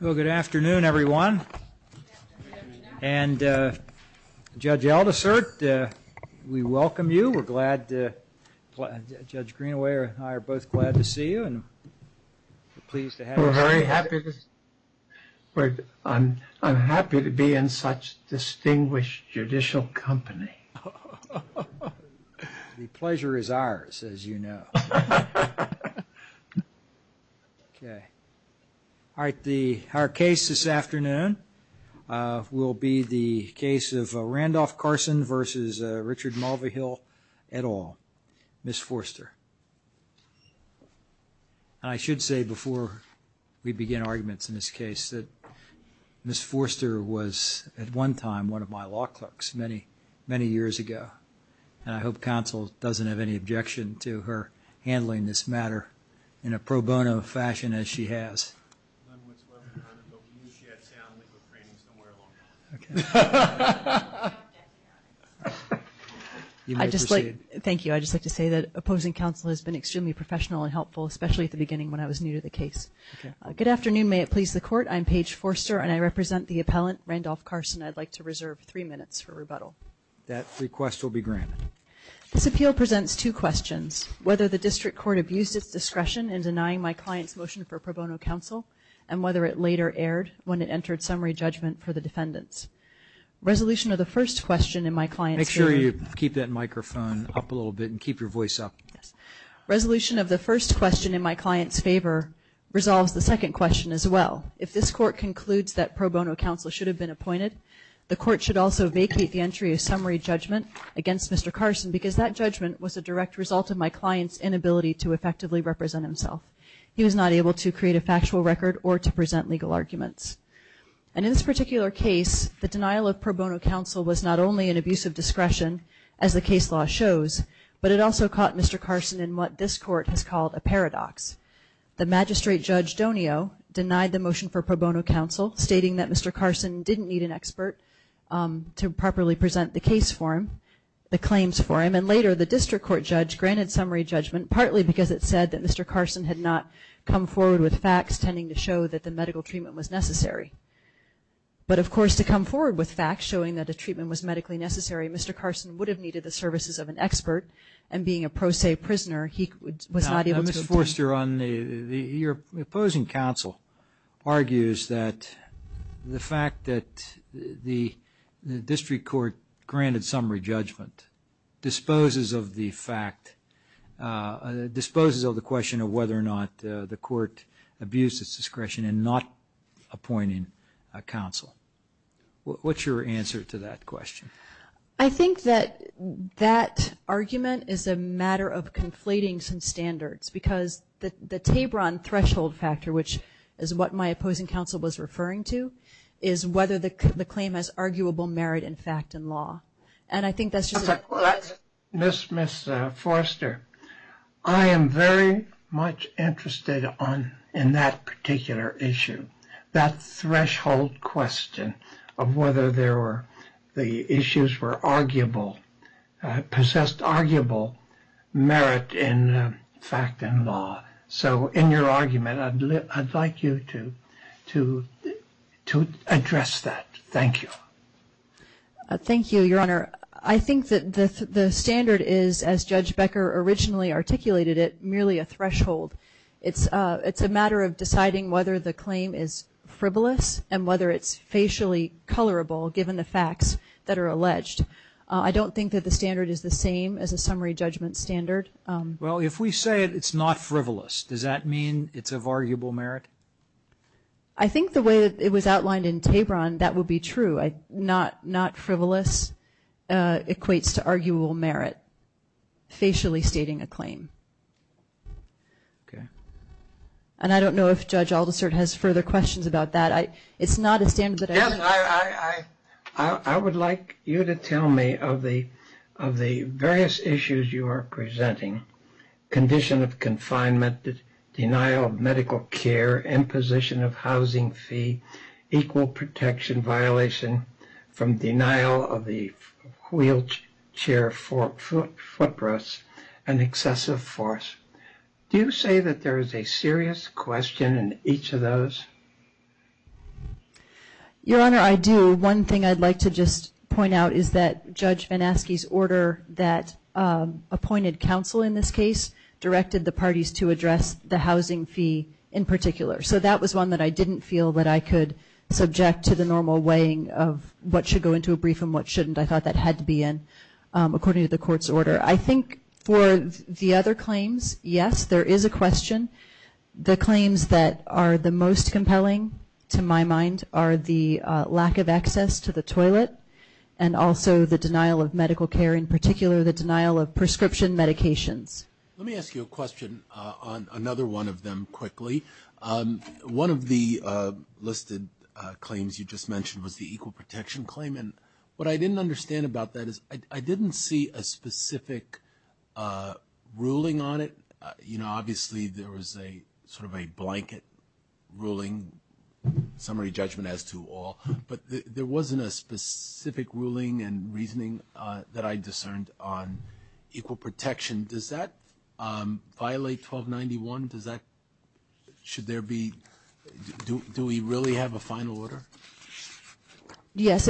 Well, good afternoon, everyone. And Judge Aldisert, we welcome you. We're glad to – Judge Greenaway and I are both glad to see you, and we're pleased to have you. We're very happy to – I'm happy to be in such distinguished judicial company. The pleasure is ours, as you know. Okay. All right, our case this afternoon will be the case of Randolph Carson v. Richard Mulvihill et al., Ms. Forster. I should say before we begin arguments in this case that Ms. Forster was at one time one of my law clerks many, many years ago, and I hope counsel doesn't have any objection to her handling this matter in a pro bono fashion as she has. I'd just like – thank you – I'd just like to say that opposing counsel has been extremely professional and helpful, especially at the beginning when I was new to the case. Good afternoon. May it please the Court. I'm Paige Forster, and I represent the appellant Randolph Carson. I'd like to reserve three minutes for rebuttal. That request will be granted. This appeal presents two questions, whether the district court abused its discretion in denying my client's motion for pro bono counsel and whether it later erred when it entered summary judgment for the defendants. Resolution of the first question in my client's favor – Make sure you keep that microphone up a little bit and keep your voice up. Yes. Resolution of the first question in my client's favor resolves the second question as well. If this Court concludes that pro bono counsel should have been appointed, the Court should also vacate the entry of summary judgment against Mr. Carson because that judgment was a direct result of my client's inability to effectively represent himself. He was not able to create a factual record or to present legal arguments. And in this particular case, the denial of pro bono counsel was not only an abuse of discretion as the case law shows, but it also caught Mr. Carson in what this Court has called a paradox. The magistrate judge, Donio, denied the motion for pro bono counsel, stating that Mr. Carson didn't need an expert to properly present the case for him, the claims for him. And later, the district court judge granted summary judgment, partly because it said that Mr. Carson had not come forward with facts tending to show that the medical treatment was necessary. But of course, to come forward with facts showing that a treatment was medically necessary, Mr. Carson would have needed the services of an expert, and being a pro se prisoner, he was not able to – Justice Forster, your opposing counsel argues that the fact that the district court granted summary judgment disposes of the fact – disposes of the question of whether or not the court abused its discretion in not appointing a counsel. What's your answer to that question? I think that that argument is a matter of conflating some standards, because the Tebron threshold factor, which is what my opposing counsel was referring to, is whether the claim has arguable merit in fact and law. And I think that's just – Of course. Ms. Forster, I am very much interested in that particular issue, that threshold question of whether there were – the issues were arguable – possessed arguable merit in fact and law. So in your argument, I'd like you to address that. Thank you. Thank you, Your Honor. I think that the standard is, as Judge Becker originally articulated it, merely a threshold. It's a matter of deciding whether the claim is frivolous and whether it's facially colorable, given the facts that are alleged. I don't think that the standard is the same as a summary judgment standard. Well, if we say it's not frivolous, does that mean it's of arguable merit? I think the way that it was outlined in Tebron, that would be true. Not frivolous equates to arguable merit, facially stating a claim. Okay. And I don't know if Judge Aldersert has further questions about that. It's not a standard that I – Yes, I would like you to tell me of the various issues you are presenting, condition of confinement, denial of medical care, imposition of housing fee, equal protection violation from denial of the wheelchair footrests, and excessive force. Do you say that there is a serious question in each of those? Your Honor, I do. One thing I'd like to just point out is that Judge VanAskey's order that appointed counsel in this case directed the parties to address the housing fee in particular. So that was one that I didn't feel that I could subject to the normal weighing of what should go into a brief and what shouldn't. I thought that had to be in according to the court's order. I think for the other claims, yes, there is a question. The claims that are the most compelling to my mind are the lack of access to the toilet and also the denial of medical care, in particular the denial of prescription medications. Let me ask you a question on another one of them quickly. One of the listed claims you just mentioned was the equal protection claim, and what I didn't understand about that is I didn't see a specific ruling on it. You know, obviously there was a sort of a blanket ruling, summary judgment as to all, but there wasn't a specific ruling and reasoning that I discerned on equal protection. Does that violate 1291? Should there be, do we really have a final order? Yes,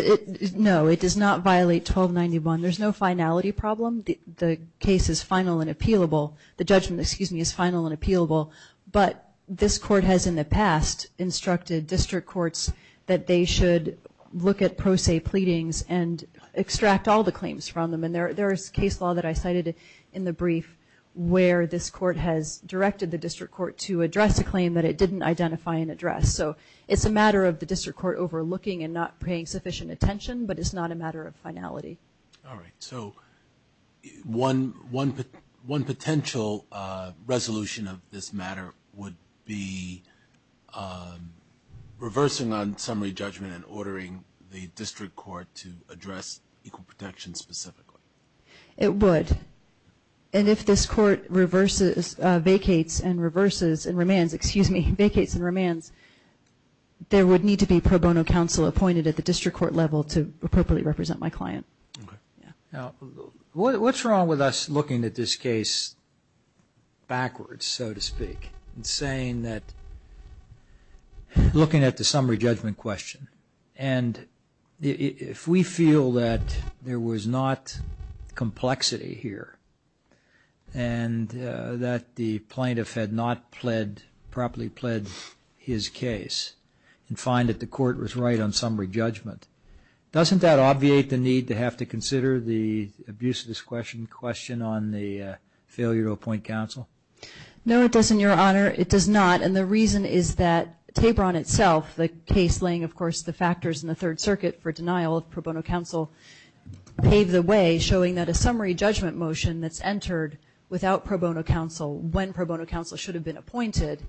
no, it does not violate 1291. There's no finality problem. The case is final and appealable. The judgment, excuse me, is final and appealable, but this court has in the past instructed district courts that they should look at pro se pleadings and extract all the claims from them, and there is case law that I cited in the brief where this court has directed the district court to address a claim that it didn't identify and address. So it's a matter of the district court overlooking and not paying sufficient attention, but it's not a matter of finality. All right, so one potential resolution of this matter would be reversing on summary judgment and ordering the district court to address equal protection specifically. It would, and if this court vacates and reverses and remands, excuse me, vacates and remands, there would need to be pro bono counsel appointed at the district court level to appropriately represent my client. Okay. Now, what's wrong with us looking at this case backwards, so to speak, and saying that, looking at the summary judgment question, and if we feel that there was not complexity here and that the plaintiff had not pled, properly pled his case and find that the court was right on summary judgment, doesn't that obviate the need to have to consider the abuse of this question on the failure to appoint counsel? No, it doesn't, Your Honor. It does not, and the reason is that Tabron itself, the case laying, of course, the factors in the Third Circuit for denial of pro bono counsel paved the way, showing that a summary judgment motion that's entered without pro bono counsel, when pro bono counsel should have been appointed,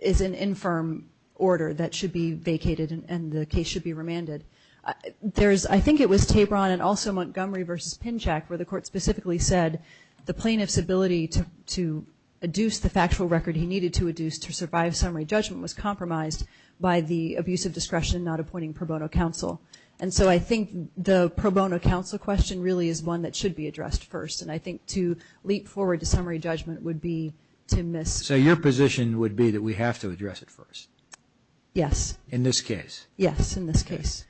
is an infirm order that should be vacated and the case should be remanded. I think it was Tabron and also Montgomery versus Pinchak where the court specifically said the plaintiff's ability to adduce the factual record he needed to adduce to survive summary judgment was compromised by the abuse of discretion not appointing pro bono counsel, and so I think the pro bono counsel question really is one that should be addressed first, and I think to leap forward to summary judgment would be to miss... So your position would be that we have to address it first? Yes. In this case? Yes, in this case.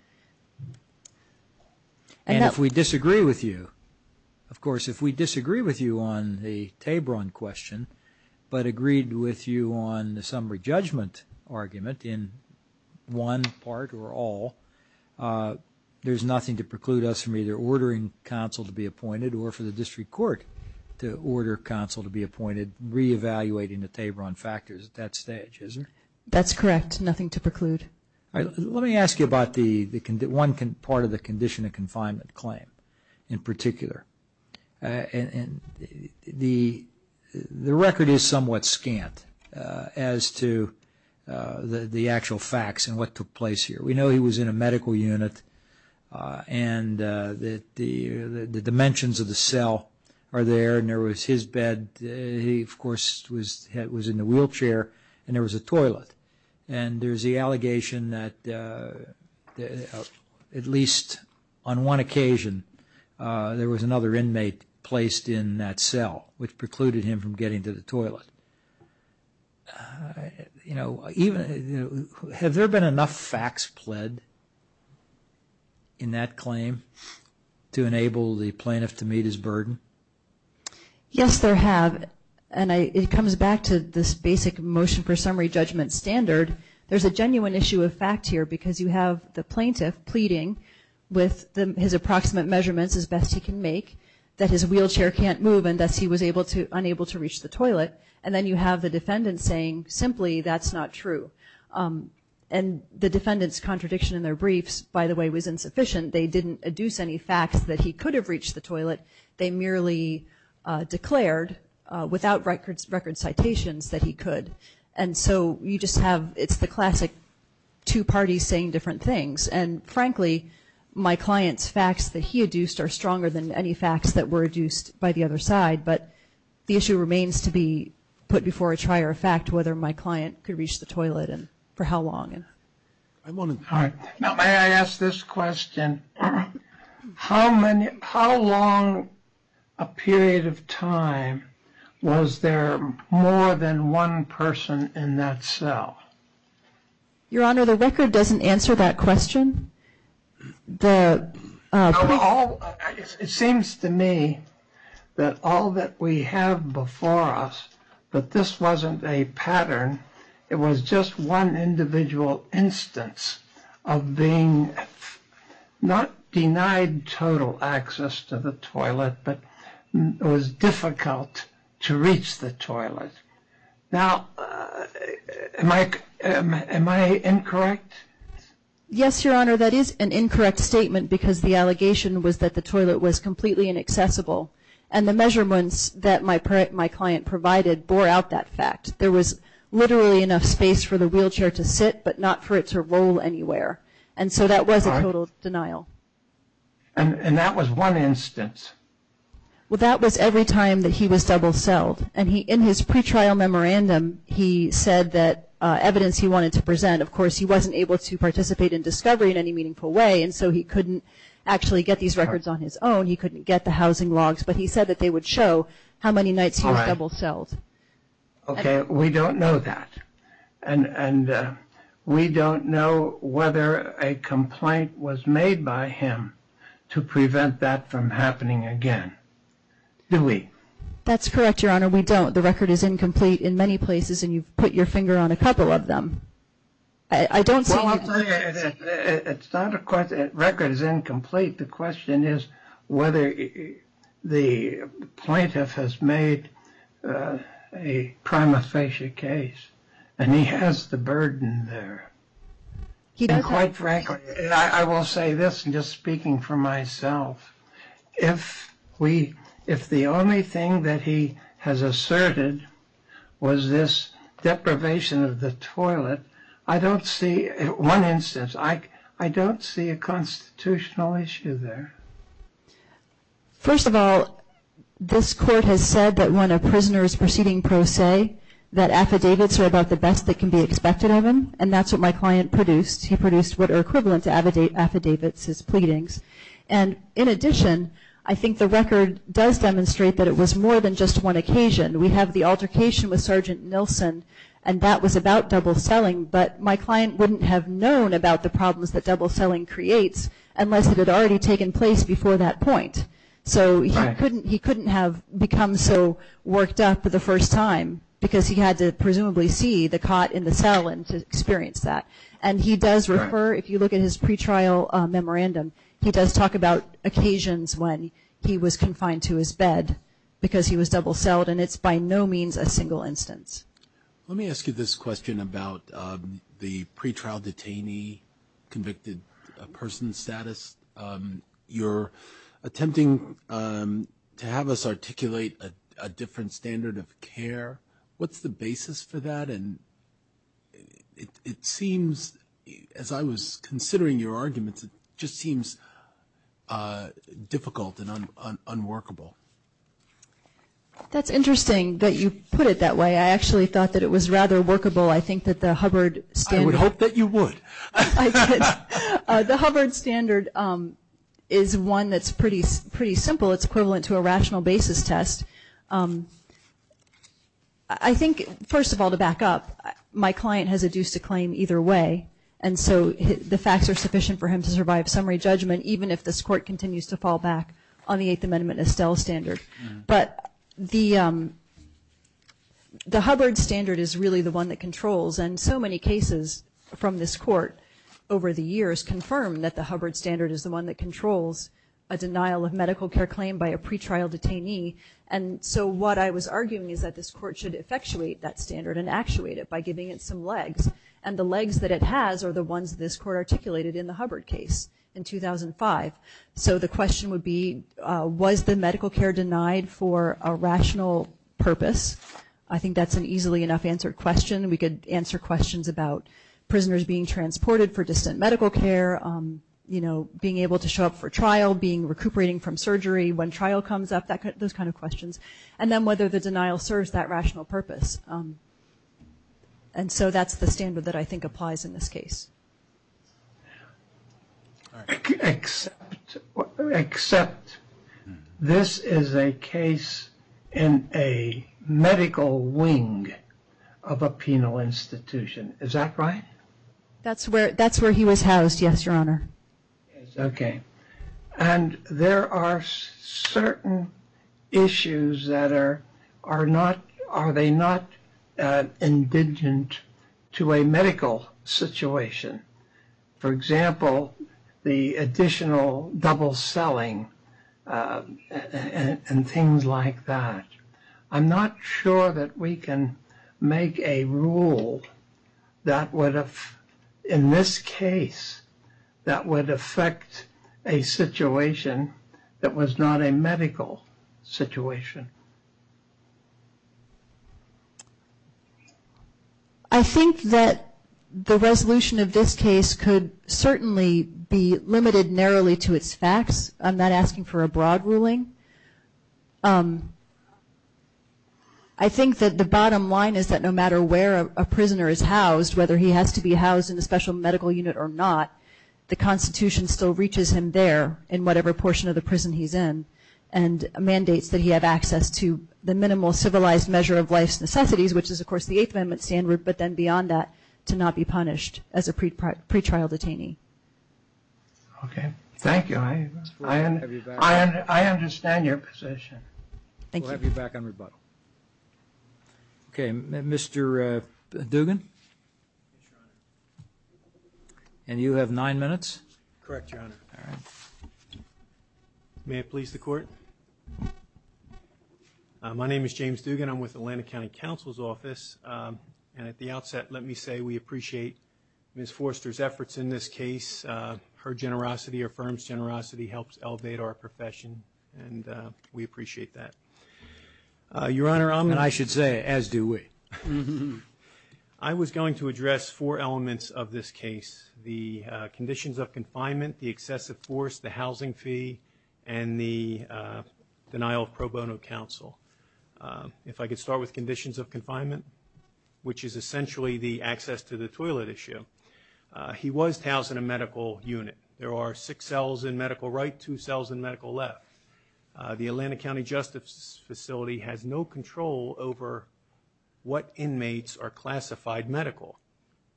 And if we disagree with you, of course, if we disagree with you on the Tabron question but agreed with you on the summary judgment argument in one part or all, there's nothing to preclude us from either ordering counsel to be appointed or for the district court to order counsel to be appointed, reevaluating the Tabron factors at that stage, is there? That's correct. Nothing to preclude. All right. Let me ask you about the... One part of the condition of confinement claim in particular, and the record is somewhat scant as to the actual facts and what took place here. We know he was in a medical unit, and the dimensions of the cell are there, and there was his bed. He, of course, was in a wheelchair, and there was a toilet. And there's the allegation that at least on one occasion there was another inmate placed in that cell, which precluded him from getting to the toilet. You know, have there been enough facts pled in that claim to enable the plaintiff to meet his burden? Yes, there have, and it comes back to this basic motion for summary judgment standard. There's a genuine issue of fact here because you have the plaintiff pleading with his approximate measurements as best he can make that his wheelchair can't move, and thus he was unable to reach the toilet. And then you have the defendant saying simply that's not true. And the defendant's contradiction in their briefs, by the way, was insufficient. They didn't adduce any facts that he could have reached the toilet. They merely declared without record citations that he could. And so you just have... It's the classic two parties saying different things. And frankly, my client's facts that he adduced are stronger than any facts that were adduced by the other side. But the issue remains to be put before a trier of fact, whether my client could reach the toilet and for how long. Now, may I ask this question? How long a period of time was there more than one person in that cell? Your Honor, the record doesn't answer that question. It seems to me that all that we have before us, that this wasn't a pattern, it was just one individual instance of being not denied total access to the toilet, but it was difficult to reach the toilet. Now, am I incorrect? Yes, Your Honor, that is an incorrect statement because the allegation was that the toilet was completely inaccessible. And the measurements that my client provided bore out that fact. There was literally enough space for the wheelchair to sit, but not for it to roll anywhere. And so that was a total denial. And that was one instance? Well, that was every time that he was double celled. And in his pretrial memorandum, he said that evidence he wanted to present, of course, he wasn't able to participate in discovery in any meaningful way, and so he couldn't actually get these records on his own. He couldn't get the housing logs, but he said that they would show how many nights he was double celled. All right. Okay. We don't know that. And we don't know whether a complaint was made by him to prevent that from happening again. Do we? That's correct, Your Honor. We don't. The record is incomplete in many places, and you've put your finger on a couple of them. I don't see... Well, I'll tell you, it's not a question... The record is incomplete. The question is whether the plaintiff has made a prima facie case, and he has the burden there. And quite frankly, I will say this, and just speaking for myself, if we... was this deprivation of the toilet, I don't see, in one instance, I don't see a constitutional issue there. First of all, this court has said that when a prisoner is proceeding pro se, that affidavits are about the best that can be expected of him, and that's what my client produced. He produced what are equivalent to affidavits, his pleadings. And in addition, I think the record does demonstrate that it was more than just one occasion. We have the altercation with Sergeant Nilsen, and that was about double selling, but my client wouldn't have known about the problems that double selling creates unless it had already taken place before that point. So he couldn't have become so worked up for the first time, because he had to presumably see the cot in the cell and to experience that. And he does refer, if you look at his pretrial memorandum, he does talk about occasions when he was confined to his bed because he was double sold, and it's by no means a single instance. Let me ask you this question about the pretrial detainee, convicted person status. You're attempting to have us articulate a different standard of care. What's the basis for that, and it seems, as I was considering your arguments, it just seemed unworkable. That's interesting that you put it that way. I actually thought that it was rather workable. I think that the Hubbard standard. I would hope that you would. The Hubbard standard is one that's pretty simple. It's equivalent to a rational basis test. I think, first of all, to back up, my client has a dues to claim either way, and so the facts are sufficient for him to survive summary judgment, even if this court continues to on the Eighth Amendment Estelle standard, but the Hubbard standard is really the one that controls, and so many cases from this court over the years confirm that the Hubbard standard is the one that controls a denial of medical care claim by a pretrial detainee, and so what I was arguing is that this court should effectuate that standard and actuate it by giving it some legs, and the legs that it has are the ones this court articulated in the Hubbard case in 2005. So the question would be, was the medical care denied for a rational purpose? I think that's an easily enough answered question, and we could answer questions about prisoners being transported for distant medical care, being able to show up for trial, being recuperating from surgery when trial comes up, those kind of questions, and then whether the denial serves that rational purpose, and so that's the standard that I think applies in this case. Except, except this is a case in a medical wing of a penal institution, is that right? That's where, that's where he was housed, yes, Your Honor. Okay. And there are certain issues that are, are not, are they not indigent to a medical situation? For example, the additional double selling and things like that. I'm not sure that we can make a rule that would have, in this case, that would affect a situation that was not a medical situation. I think that the resolution of this case could certainly be limited narrowly to its facts. I'm not asking for a broad ruling. I think that the bottom line is that no matter where a prisoner is housed, whether he has to be housed in a special medical unit or not, the Constitution still reaches him there in whatever portion of the prison he's in, and mandates that he have access to the minimal civilized measure of life's necessities, which is of course the Eighth Amendment standard, but then beyond that, to not be punished as a pretrial detainee. Okay. Thank you. I understand your position. Thank you. We'll have you back on rebuttal. Mr. Dugan? Yes, Your Honor. And you have nine minutes? Correct, Your Honor. All right. May it please the Court? My name is James Dugan. I'm with Atlanta County Counsel's Office, and at the outset, let me say we appreciate Ms. Forster's efforts in this case. Her generosity, her firm's generosity, helps elevate our profession, and we appreciate that. Your Honor, I'm going to... And I should say, as do we. I was going to address four elements of this case, the conditions of confinement, the excessive force, the housing fee, and the denial of pro bono counsel. If I could start with conditions of confinement, which is essentially the access to the toilet issue. He was housed in a medical unit. There are six cells in medical right, two cells in medical left. The Atlanta County Justice Facility has no control over what inmates are classified medical.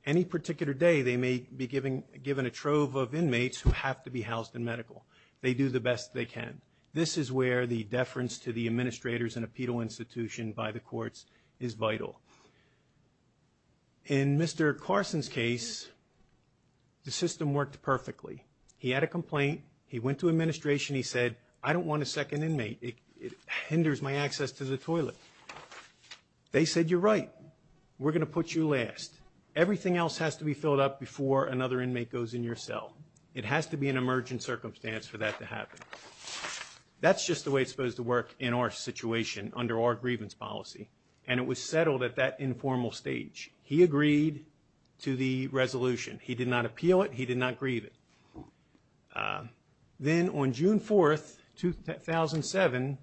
Any particular day, they may be given a trove of inmates who have to be housed in medical. They do the best they can. This is where the deference to the administrators in a penal institution by the courts is vital. In Mr. Carson's case, the system worked perfectly. He had a complaint. He went to administration. He said, I don't want a second inmate. It hinders my access to the toilet. They said, you're right. We're going to put you last. Everything else has to be filled up before another inmate goes in your cell. It has to be an emergent circumstance for that to happen. That's just the way it's supposed to work in our situation under our grievance policy, and it was settled at that informal stage. He agreed to the resolution. He did not appeal it. He did not grieve it. Then on June 4th, 2007,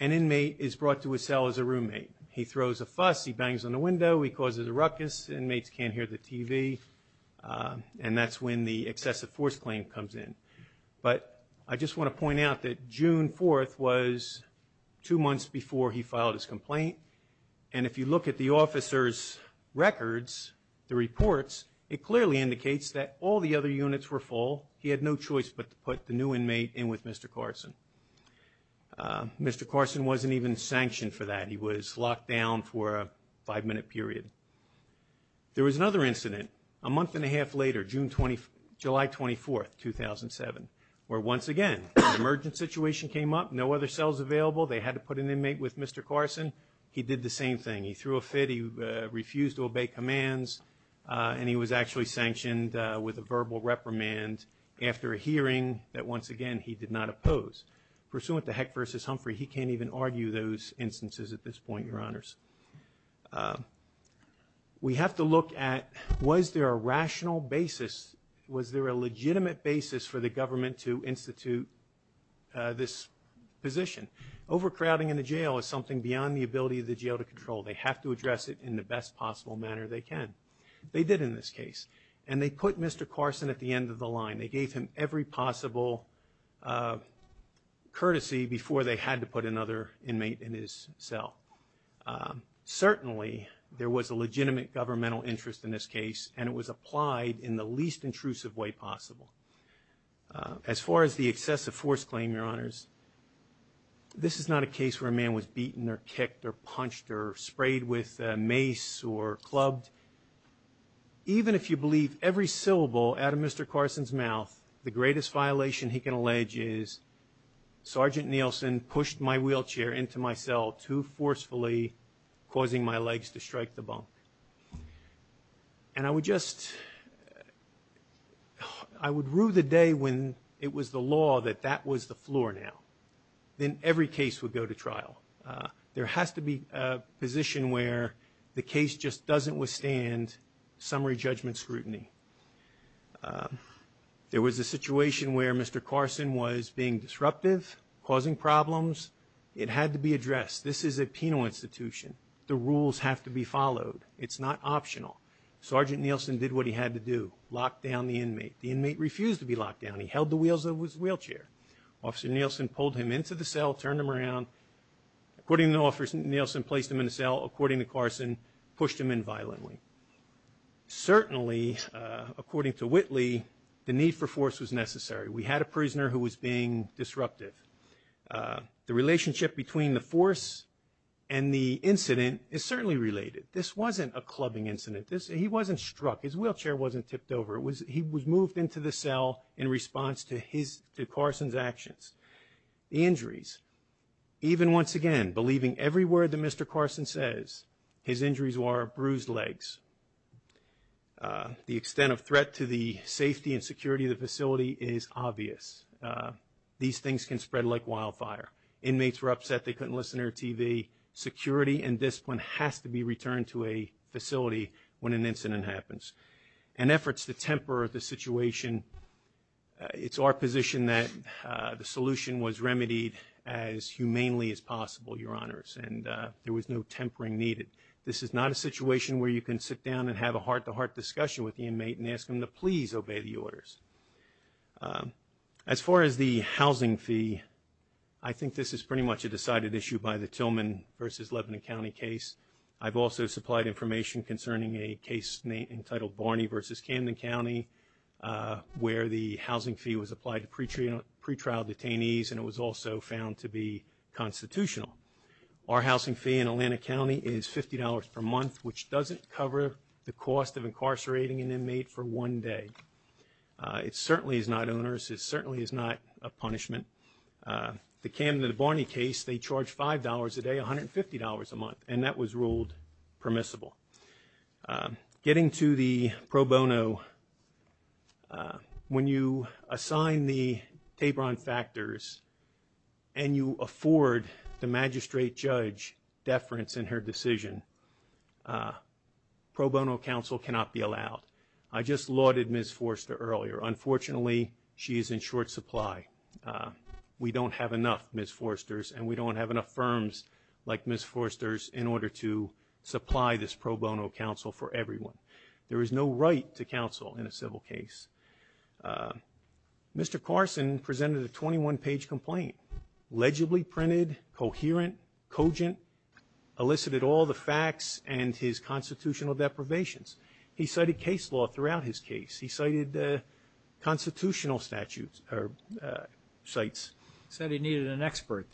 an inmate is brought to his cell as a roommate. He throws a fuss. He bangs on the window. He causes a ruckus. Inmates can't hear the TV, and that's when the excessive force claim comes in. I just want to point out that June 4th was two months before he filed his complaint, and if you look at the officer's records, the reports, it clearly indicates that all the other units were full. He had no choice but to put the new inmate in with Mr. Carson. Mr. Carson wasn't even sanctioned for that. He was locked down for a five-minute period. There was another incident a month and a half later, July 24th, 2007, where once again an emergent situation came up, no other cells available. They had to put an inmate with Mr. Carson. He did the same thing. He threw a fit. He refused to obey commands, and he was actually sanctioned with a verbal reprimand after a hearing that, once again, he did not oppose. Pursuant to Heck v. Humphrey, he can't even argue those instances at this point, Your Honors. We have to look at was there a rational basis, was there a legitimate basis for the government to institute this position. Overcrowding in a jail is something beyond the ability of the jail to control. They have to address it in the best possible manner they can. They did in this case, and they put Mr. Carson at the end of the line. They gave him every possible courtesy before they had to put another inmate in his cell. Certainly, there was a legitimate governmental interest in this case, and it was applied in the least intrusive way possible. As far as the excessive force claim, Your Honors, this is not a case where a man was beaten or kicked or punched or sprayed with mace or clubbed. Even if you believe every syllable out of Mr. Carson's mouth, the greatest violation he can allege is, Sergeant Nielsen pushed my wheelchair into my cell too forcefully, causing my legs to strike the bump. And I would just, I would rue the day when it was the law that that was the floor now. Then every case would go to trial. There has to be a position where the case just doesn't withstand summary judgment scrutiny. There was a situation where Mr. Carson was being disruptive, causing problems. It had to be addressed. This is a penal institution. The rules have to be followed. It's not optional. Sergeant Nielsen did what he had to do, lock down the inmate. The inmate refused to be locked down. He held the wheels of his wheelchair. Officer Nielsen pulled him into the cell, turned him around. According to the officer, Nielsen placed him in the cell. According to Carson, pushed him in violently. Certainly, according to Whitley, the need for force was necessary. We had a prisoner who was being disruptive. The relationship between the force and the incident is certainly related. This wasn't a clubbing incident. He wasn't struck. His wheelchair wasn't tipped over. He was moved into the cell in response to Carson's actions. The injuries. Even once again, believing every word that Mr. Carson says, his injuries were bruised legs. The extent of threat to the safety and security of the facility is obvious. These things can spread like wildfire. Inmates were upset they couldn't listen to their TV. Security and discipline has to be returned to a facility when an incident happens. In efforts to temper the situation, it's our position that the solution was remedied as humanely as possible, Your Honors, and there was no tempering needed. This is not a situation where you can sit down and have a heart-to-heart discussion with the inmate and ask him to please obey the orders. As far as the housing fee, I think this is pretty much a decided issue by the Tillman versus Lebanon County case. I've also supplied information concerning a case entitled Barney versus Camden County, where the housing fee was applied to pretrial detainees and it was also found to be constitutional. Our housing fee in Atlanta County is $50 per month, which doesn't cover the cost of incarcerating an inmate for one day. It certainly is not onerous. It certainly is not a punishment. The Camden and Barney case, they charge $5 a day, $150 a month, and that was ruled permissible. Getting to the pro bono, when you assign the Tabron factors and you afford the magistrate judge deference in her decision, pro bono counsel cannot be allowed. I just lauded Ms. Forster earlier. Unfortunately, she is in short supply. We don't have enough Ms. Forsters and we don't have enough firms like Ms. Forsters in order to supply this pro bono counsel for everyone. There is no right to counsel in a civil case. Mr. Carson presented a 21-page complaint, legibly printed, coherent, cogent, elicited all the facts and his constitutional deprivations. He cited case law throughout his case. He cited constitutional statutes or cites. He said he needed an expert.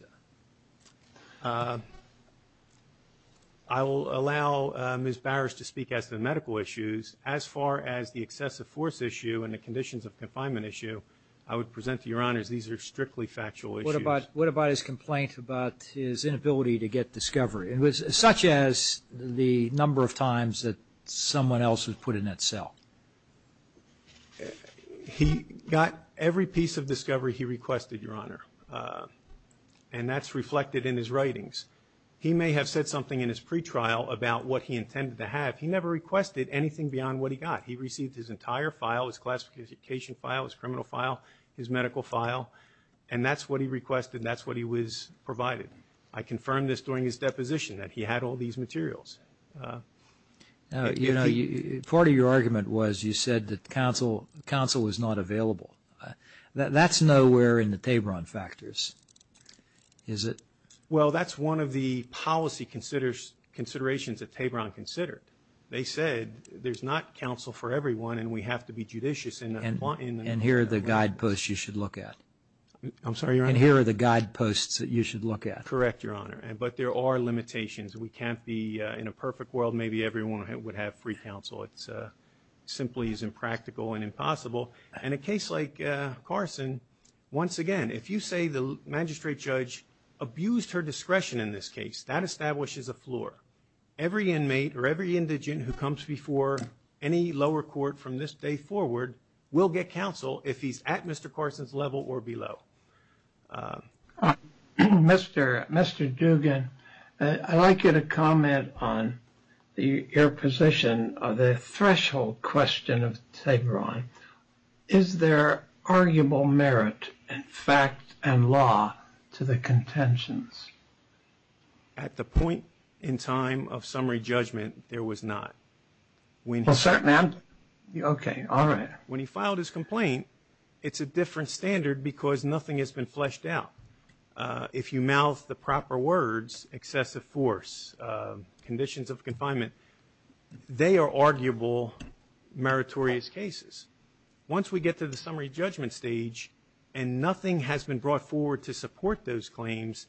I will allow Ms. Bowers to speak as to the medical issues. As far as the excessive force issue and the conditions of confinement issue, I would present to your honors these are strictly factual issues. What about his complaint about his inability to get discovery? It was such as the number of times that someone else was put in that cell. He got every piece of discovery he requested, your honor, and that's reflected in his writings. He may have said something in his pretrial about what he intended to have. He never requested anything beyond what he got. He received his entire file, his classification file, his criminal file, his medical file, and that's what he requested. That's what he was provided. I confirmed this during his deposition that he had all these materials. You know, part of your argument was you said that counsel was not available. That's nowhere in the Tabron factors, is it? Well, that's one of the policy considerations that Tabron considered. They said there's not counsel for everyone and we have to be judicious. And here are the guideposts you should look at. I'm sorry, your honor? And here are the guideposts that you should look at. Correct, your honor. But there are limitations. We can't be in a perfect world. Maybe everyone would have free counsel. It simply is impractical and impossible. In a case like Carson, once again, if you say the magistrate judge abused her discretion in this case, that establishes a floor. Every inmate or every indigent who comes before any lower court from this day forward will get counsel if he's at Mr. Carson's level or below. Mr. Dugan, I'd like you to comment on your position on the threshold question of Tabron. Is there arguable merit in fact and law to the contentions? At the point in time of summary judgment, there was not. When he filed his complaint, it's a different standard because nothing has been fleshed out. If you mouth the proper words, excessive force, conditions of confinement, they are arguable meritorious cases. Once we get to the summary judgment stage and nothing has been brought forward to support those claims,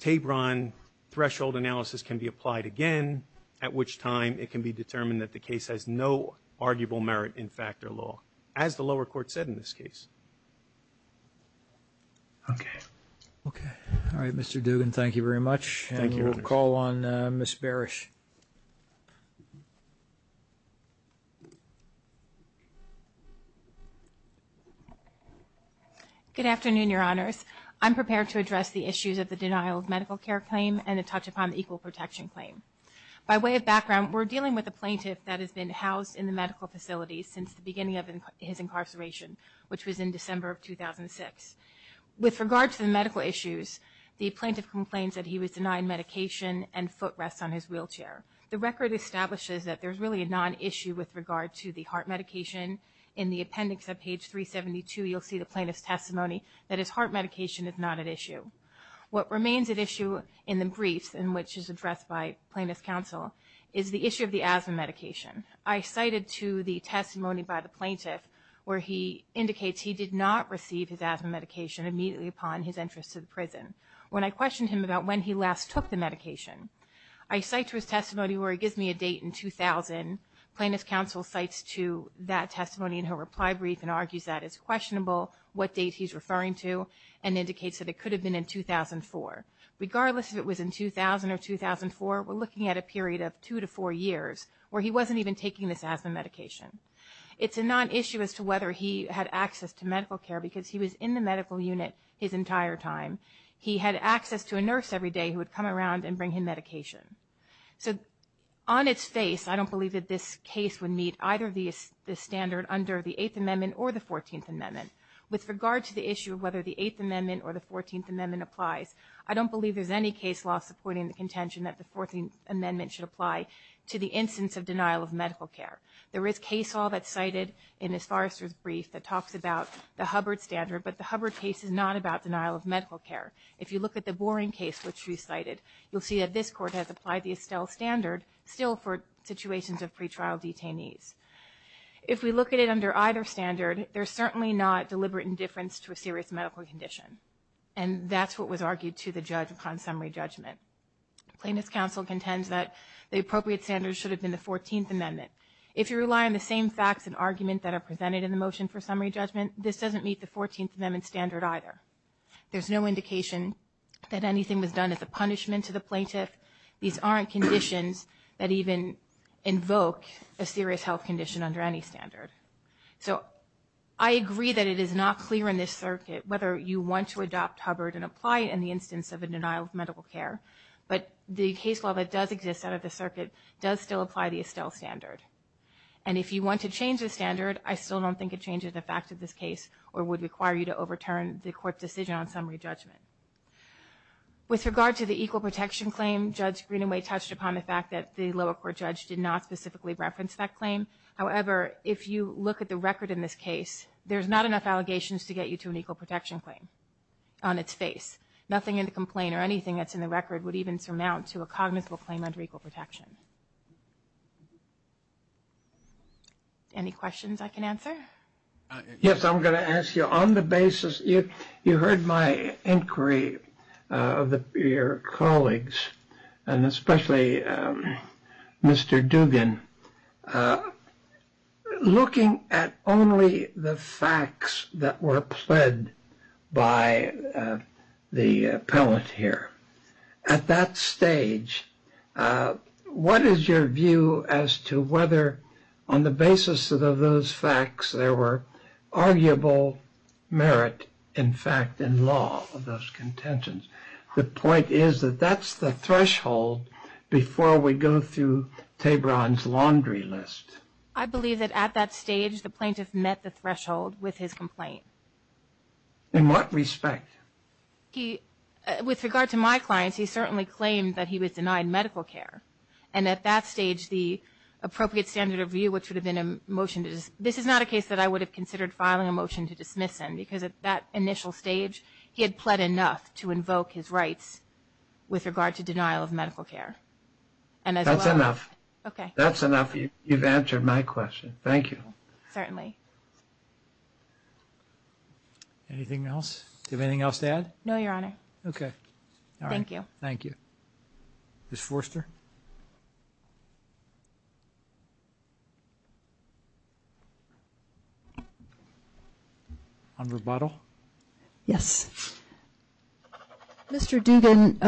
Tabron threshold analysis can be applied again, at which time it can be determined that the case has no arguable merit in fact or law, as the lower court said in this case. Okay. Okay. All right, Mr. Dugan, thank you very much. Thank you, your honor. We'll call on Ms. Barish. Good afternoon, your honors. I'm prepared to address the issues of the denial of medical care claim and to touch upon the equal protection claim. By way of background, we're dealing with a plaintiff that has been housed in the medical facility since the beginning of his incarceration, which was in December of 2006. With regard to the medical issues, the plaintiff complains that he was denied medication and foot rests on his wheelchair. The record establishes that there's really a non-issue with regard to the heart medication. In the appendix at page 372, you'll see the plaintiff's testimony that his heart medication is not at issue. What remains at issue in the briefs in which is addressed by plaintiff's counsel is the issue of the asthma medication. I cited to the testimony by the plaintiff where he indicates he did not receive his asthma medication immediately upon his entrance to the prison. When I questioned him about when he last took the medication, I cite to his testimony where he gives me a date in 2000. Plaintiff's counsel cites to that testimony in her reply brief and argues that it's questionable what date he's referring to and indicates that it could have been in 2004. Regardless if it was in 2000 or 2004, we're looking at a period of two to four years where he wasn't even taking this asthma medication. It's a non-issue as to whether he had access to medical care because he was in the medical unit his entire time. He had access to a nurse every day who would come around and bring him medication. So on its face, I don't believe that this case would meet either the standard under the Eighth Amendment or the Fourteenth Amendment. With regard to the issue of whether the Eighth Amendment or the Fourteenth Amendment applies, I don't believe there's any case law supporting the contention that the Fourteenth Amendment should apply to the instance of denial of medical care. There is case law that's cited in Ms. Forrester's brief that talks about the Hubbard standard, but the Hubbard case is not about denial of medical care. If you look at the Boring case which she cited, you'll see that this court has applied the Estelle standard still for situations of pretrial detainees. If we look at it under either standard, there's certainly not deliberate indifference to a serious medical condition, and that's what was argued to the judge upon summary judgment. Plaintiff's counsel contends that the appropriate standard should have been the Fourteenth Amendment. If you rely on the same facts and argument that are presented in the motion for summary judgment, this doesn't meet the Fourteenth Amendment standard either. There's no indication that anything was done as a punishment to the plaintiff. These aren't conditions that even invoke a serious health condition under any standard. So I agree that it is not clear in this circuit whether you want to adopt Hubbard and apply it in the instance of a denial of medical care, but the case law that does exist out of the circuit does still apply the Estelle standard. And if you want to change the standard, I still don't think it changes the fact of this case or would require you to overturn the court's decision on summary judgment. With regard to the equal protection claim, Judge Greenaway touched upon the fact that the lower court judge did not specifically reference that claim. However, if you look at the record in this case, there's not enough allegations to get you to an equal protection claim on its face. Nothing in the complaint or anything that's in the record would even surmount to a cognizable claim under equal protection. Any questions I can answer? Yes, I'm going to ask you on the basis you heard my inquiry of your colleagues, and especially Mr. Dugan, looking at only the facts that were pled by the appellant here. At that stage, what is your view as to whether, on the basis of those facts, there were arguable merit, in fact, in law of those contentions? The point is that that's the threshold before we go through Tabron's laundry list. I believe that at that stage the plaintiff met the threshold with his complaint. In what respect? With regard to my clients, he certainly claimed that he was denied medical care. And at that stage, the appropriate standard of view, which would have been a motion to dismiss, this is not a case that I would have considered filing a motion to dismiss him, because at that initial stage he had pled enough to invoke his rights with regard to denial of medical care. That's enough. Okay. That's enough. You've answered my question. Thank you. Certainly. Anything else? Do you have anything else to add? No, Your Honor. Okay. Thank you. Thank you. Ms. Forster? On rebuttal? Yes. Mr. Dugan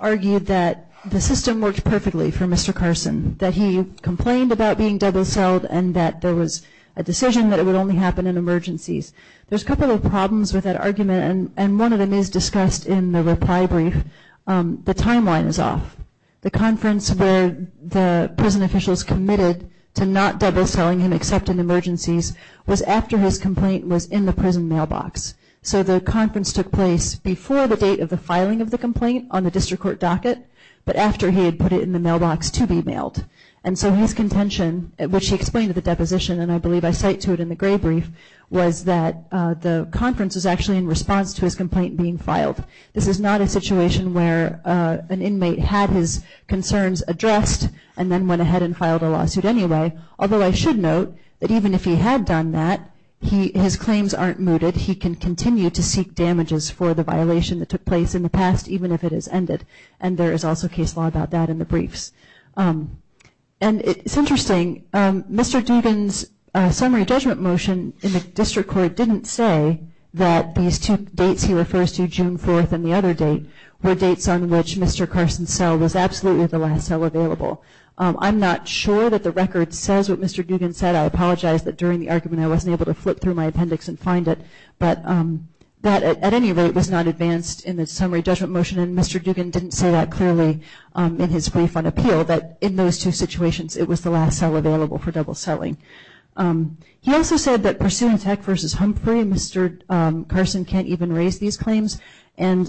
argued that the system worked perfectly for Mr. Carson, that he complained about being double-selled and that there was a decision that it would only happen in emergencies. There's a couple of problems with that argument, and one of them is discussed in the reply brief. The timeline is off. The conference where the prison officials committed to not double-selling him except in emergencies was after his complaint was in the prison mailbox. So the conference took place before the date of the filing of the complaint on the district court docket, but after he had put it in the mailbox to be mailed. And so his contention, which he explained at the deposition, and I believe I cite to it in the gray brief, was that the conference was actually in response to his complaint being filed. This is not a situation where an inmate had his concerns addressed and then went ahead and filed a lawsuit anyway, although I should note that even if he had done that, his claims aren't mooted. He can continue to seek damages for the violation that took place in the past, even if it is ended. And there is also case law about that in the briefs. And it's interesting, Mr. Dugan's summary judgment motion in the district court didn't say that these two dates he refers to, June 4th and the other date, were dates on which Mr. Carson's cell was absolutely the last cell available. I'm not sure that the record says what Mr. Dugan said. I apologize that during the argument I wasn't able to flip through my appendix and find it, but that at any rate was not advanced in the summary judgment motion, and Mr. Dugan didn't say that clearly in his brief on appeal, that in those two situations it was the last cell available for double selling. He also said that pursuant to Heck v. Humphrey, Mr. Carson can't even raise these claims. And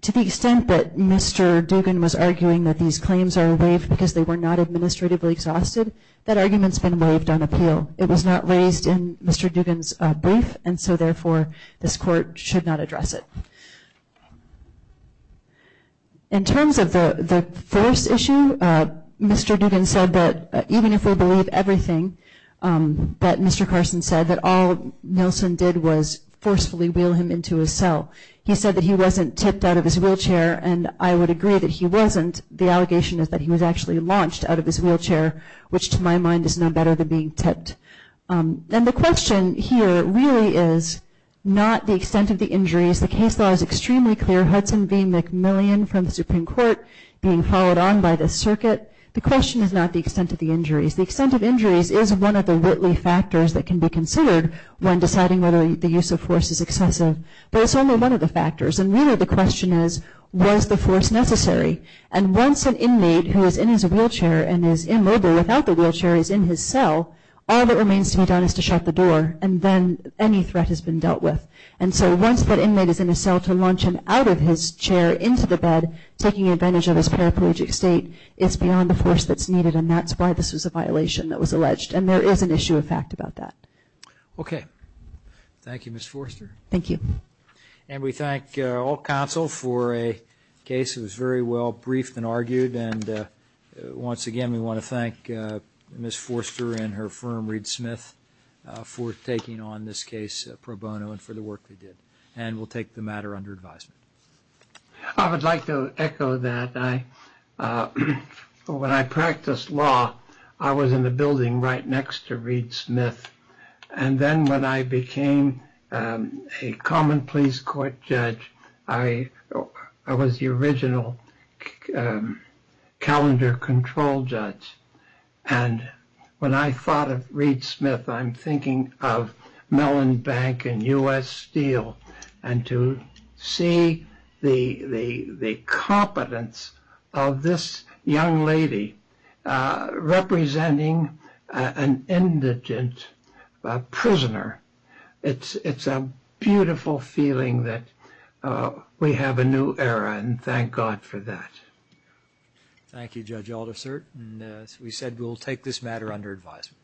to the extent that Mr. Dugan was arguing that these claims are waived because they were not administratively exhausted, that argument's been waived on appeal. It was not raised in Mr. Dugan's brief, and so therefore this court should not address it. In terms of the force issue, Mr. Dugan said that even if we believe everything that Mr. Carson said, that all Nelson did was forcefully wheel him into his cell. He said that he wasn't tipped out of his wheelchair, and I would agree that he wasn't. The allegation is that he was actually launched out of his wheelchair, which to my mind is no better than being tipped. And the question here really is not the extent of the injuries. The case law is extremely clear, Hudson v. McMillian from the Supreme Court being followed on by the circuit. The question is not the extent of the injuries. The extent of injuries is one of the whitley factors that can be considered when deciding whether the use of force is excessive, but it's only one of the factors. And really the question is, was the force necessary? And once an inmate who is in his wheelchair and is immobile without the wheelchair is in his cell, all that remains to be done is to shut the door, and then any threat has been dealt with. And so once that inmate is in his cell to launch him out of his chair into the bed, taking advantage of his paraplegic state, it's beyond the force that's needed, and that's why this was a violation that was alleged. And there is an issue of fact about that. Okay. Thank you, Ms. Forster. Thank you. And we thank all counsel for a case that was very well briefed and argued, and once again we want to thank Ms. Forster and her firm, Reed Smith, for taking on this case pro bono and for the work they did. And we'll take the matter under advisement. I would like to echo that. When I practiced law, I was in the building right next to Reed Smith, and then when I became a common pleas court judge, I was the original calendar control judge. And when I thought of Reed Smith, I'm thinking of Mellon Bank and U.S. Steel, and to see the competence of this young lady representing an indigent prisoner, it's a beautiful feeling that we have a new era, and thank God for that. Thank you, Judge Aldersert. And as we said, we'll take this matter under advisement.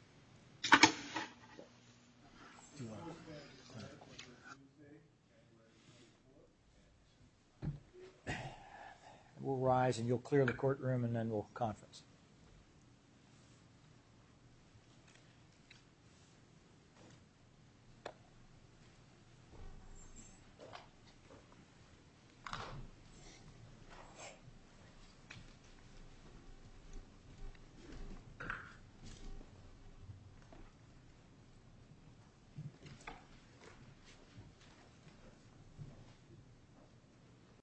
We'll rise and you'll clear the courtroom and then we'll conference. Thank you.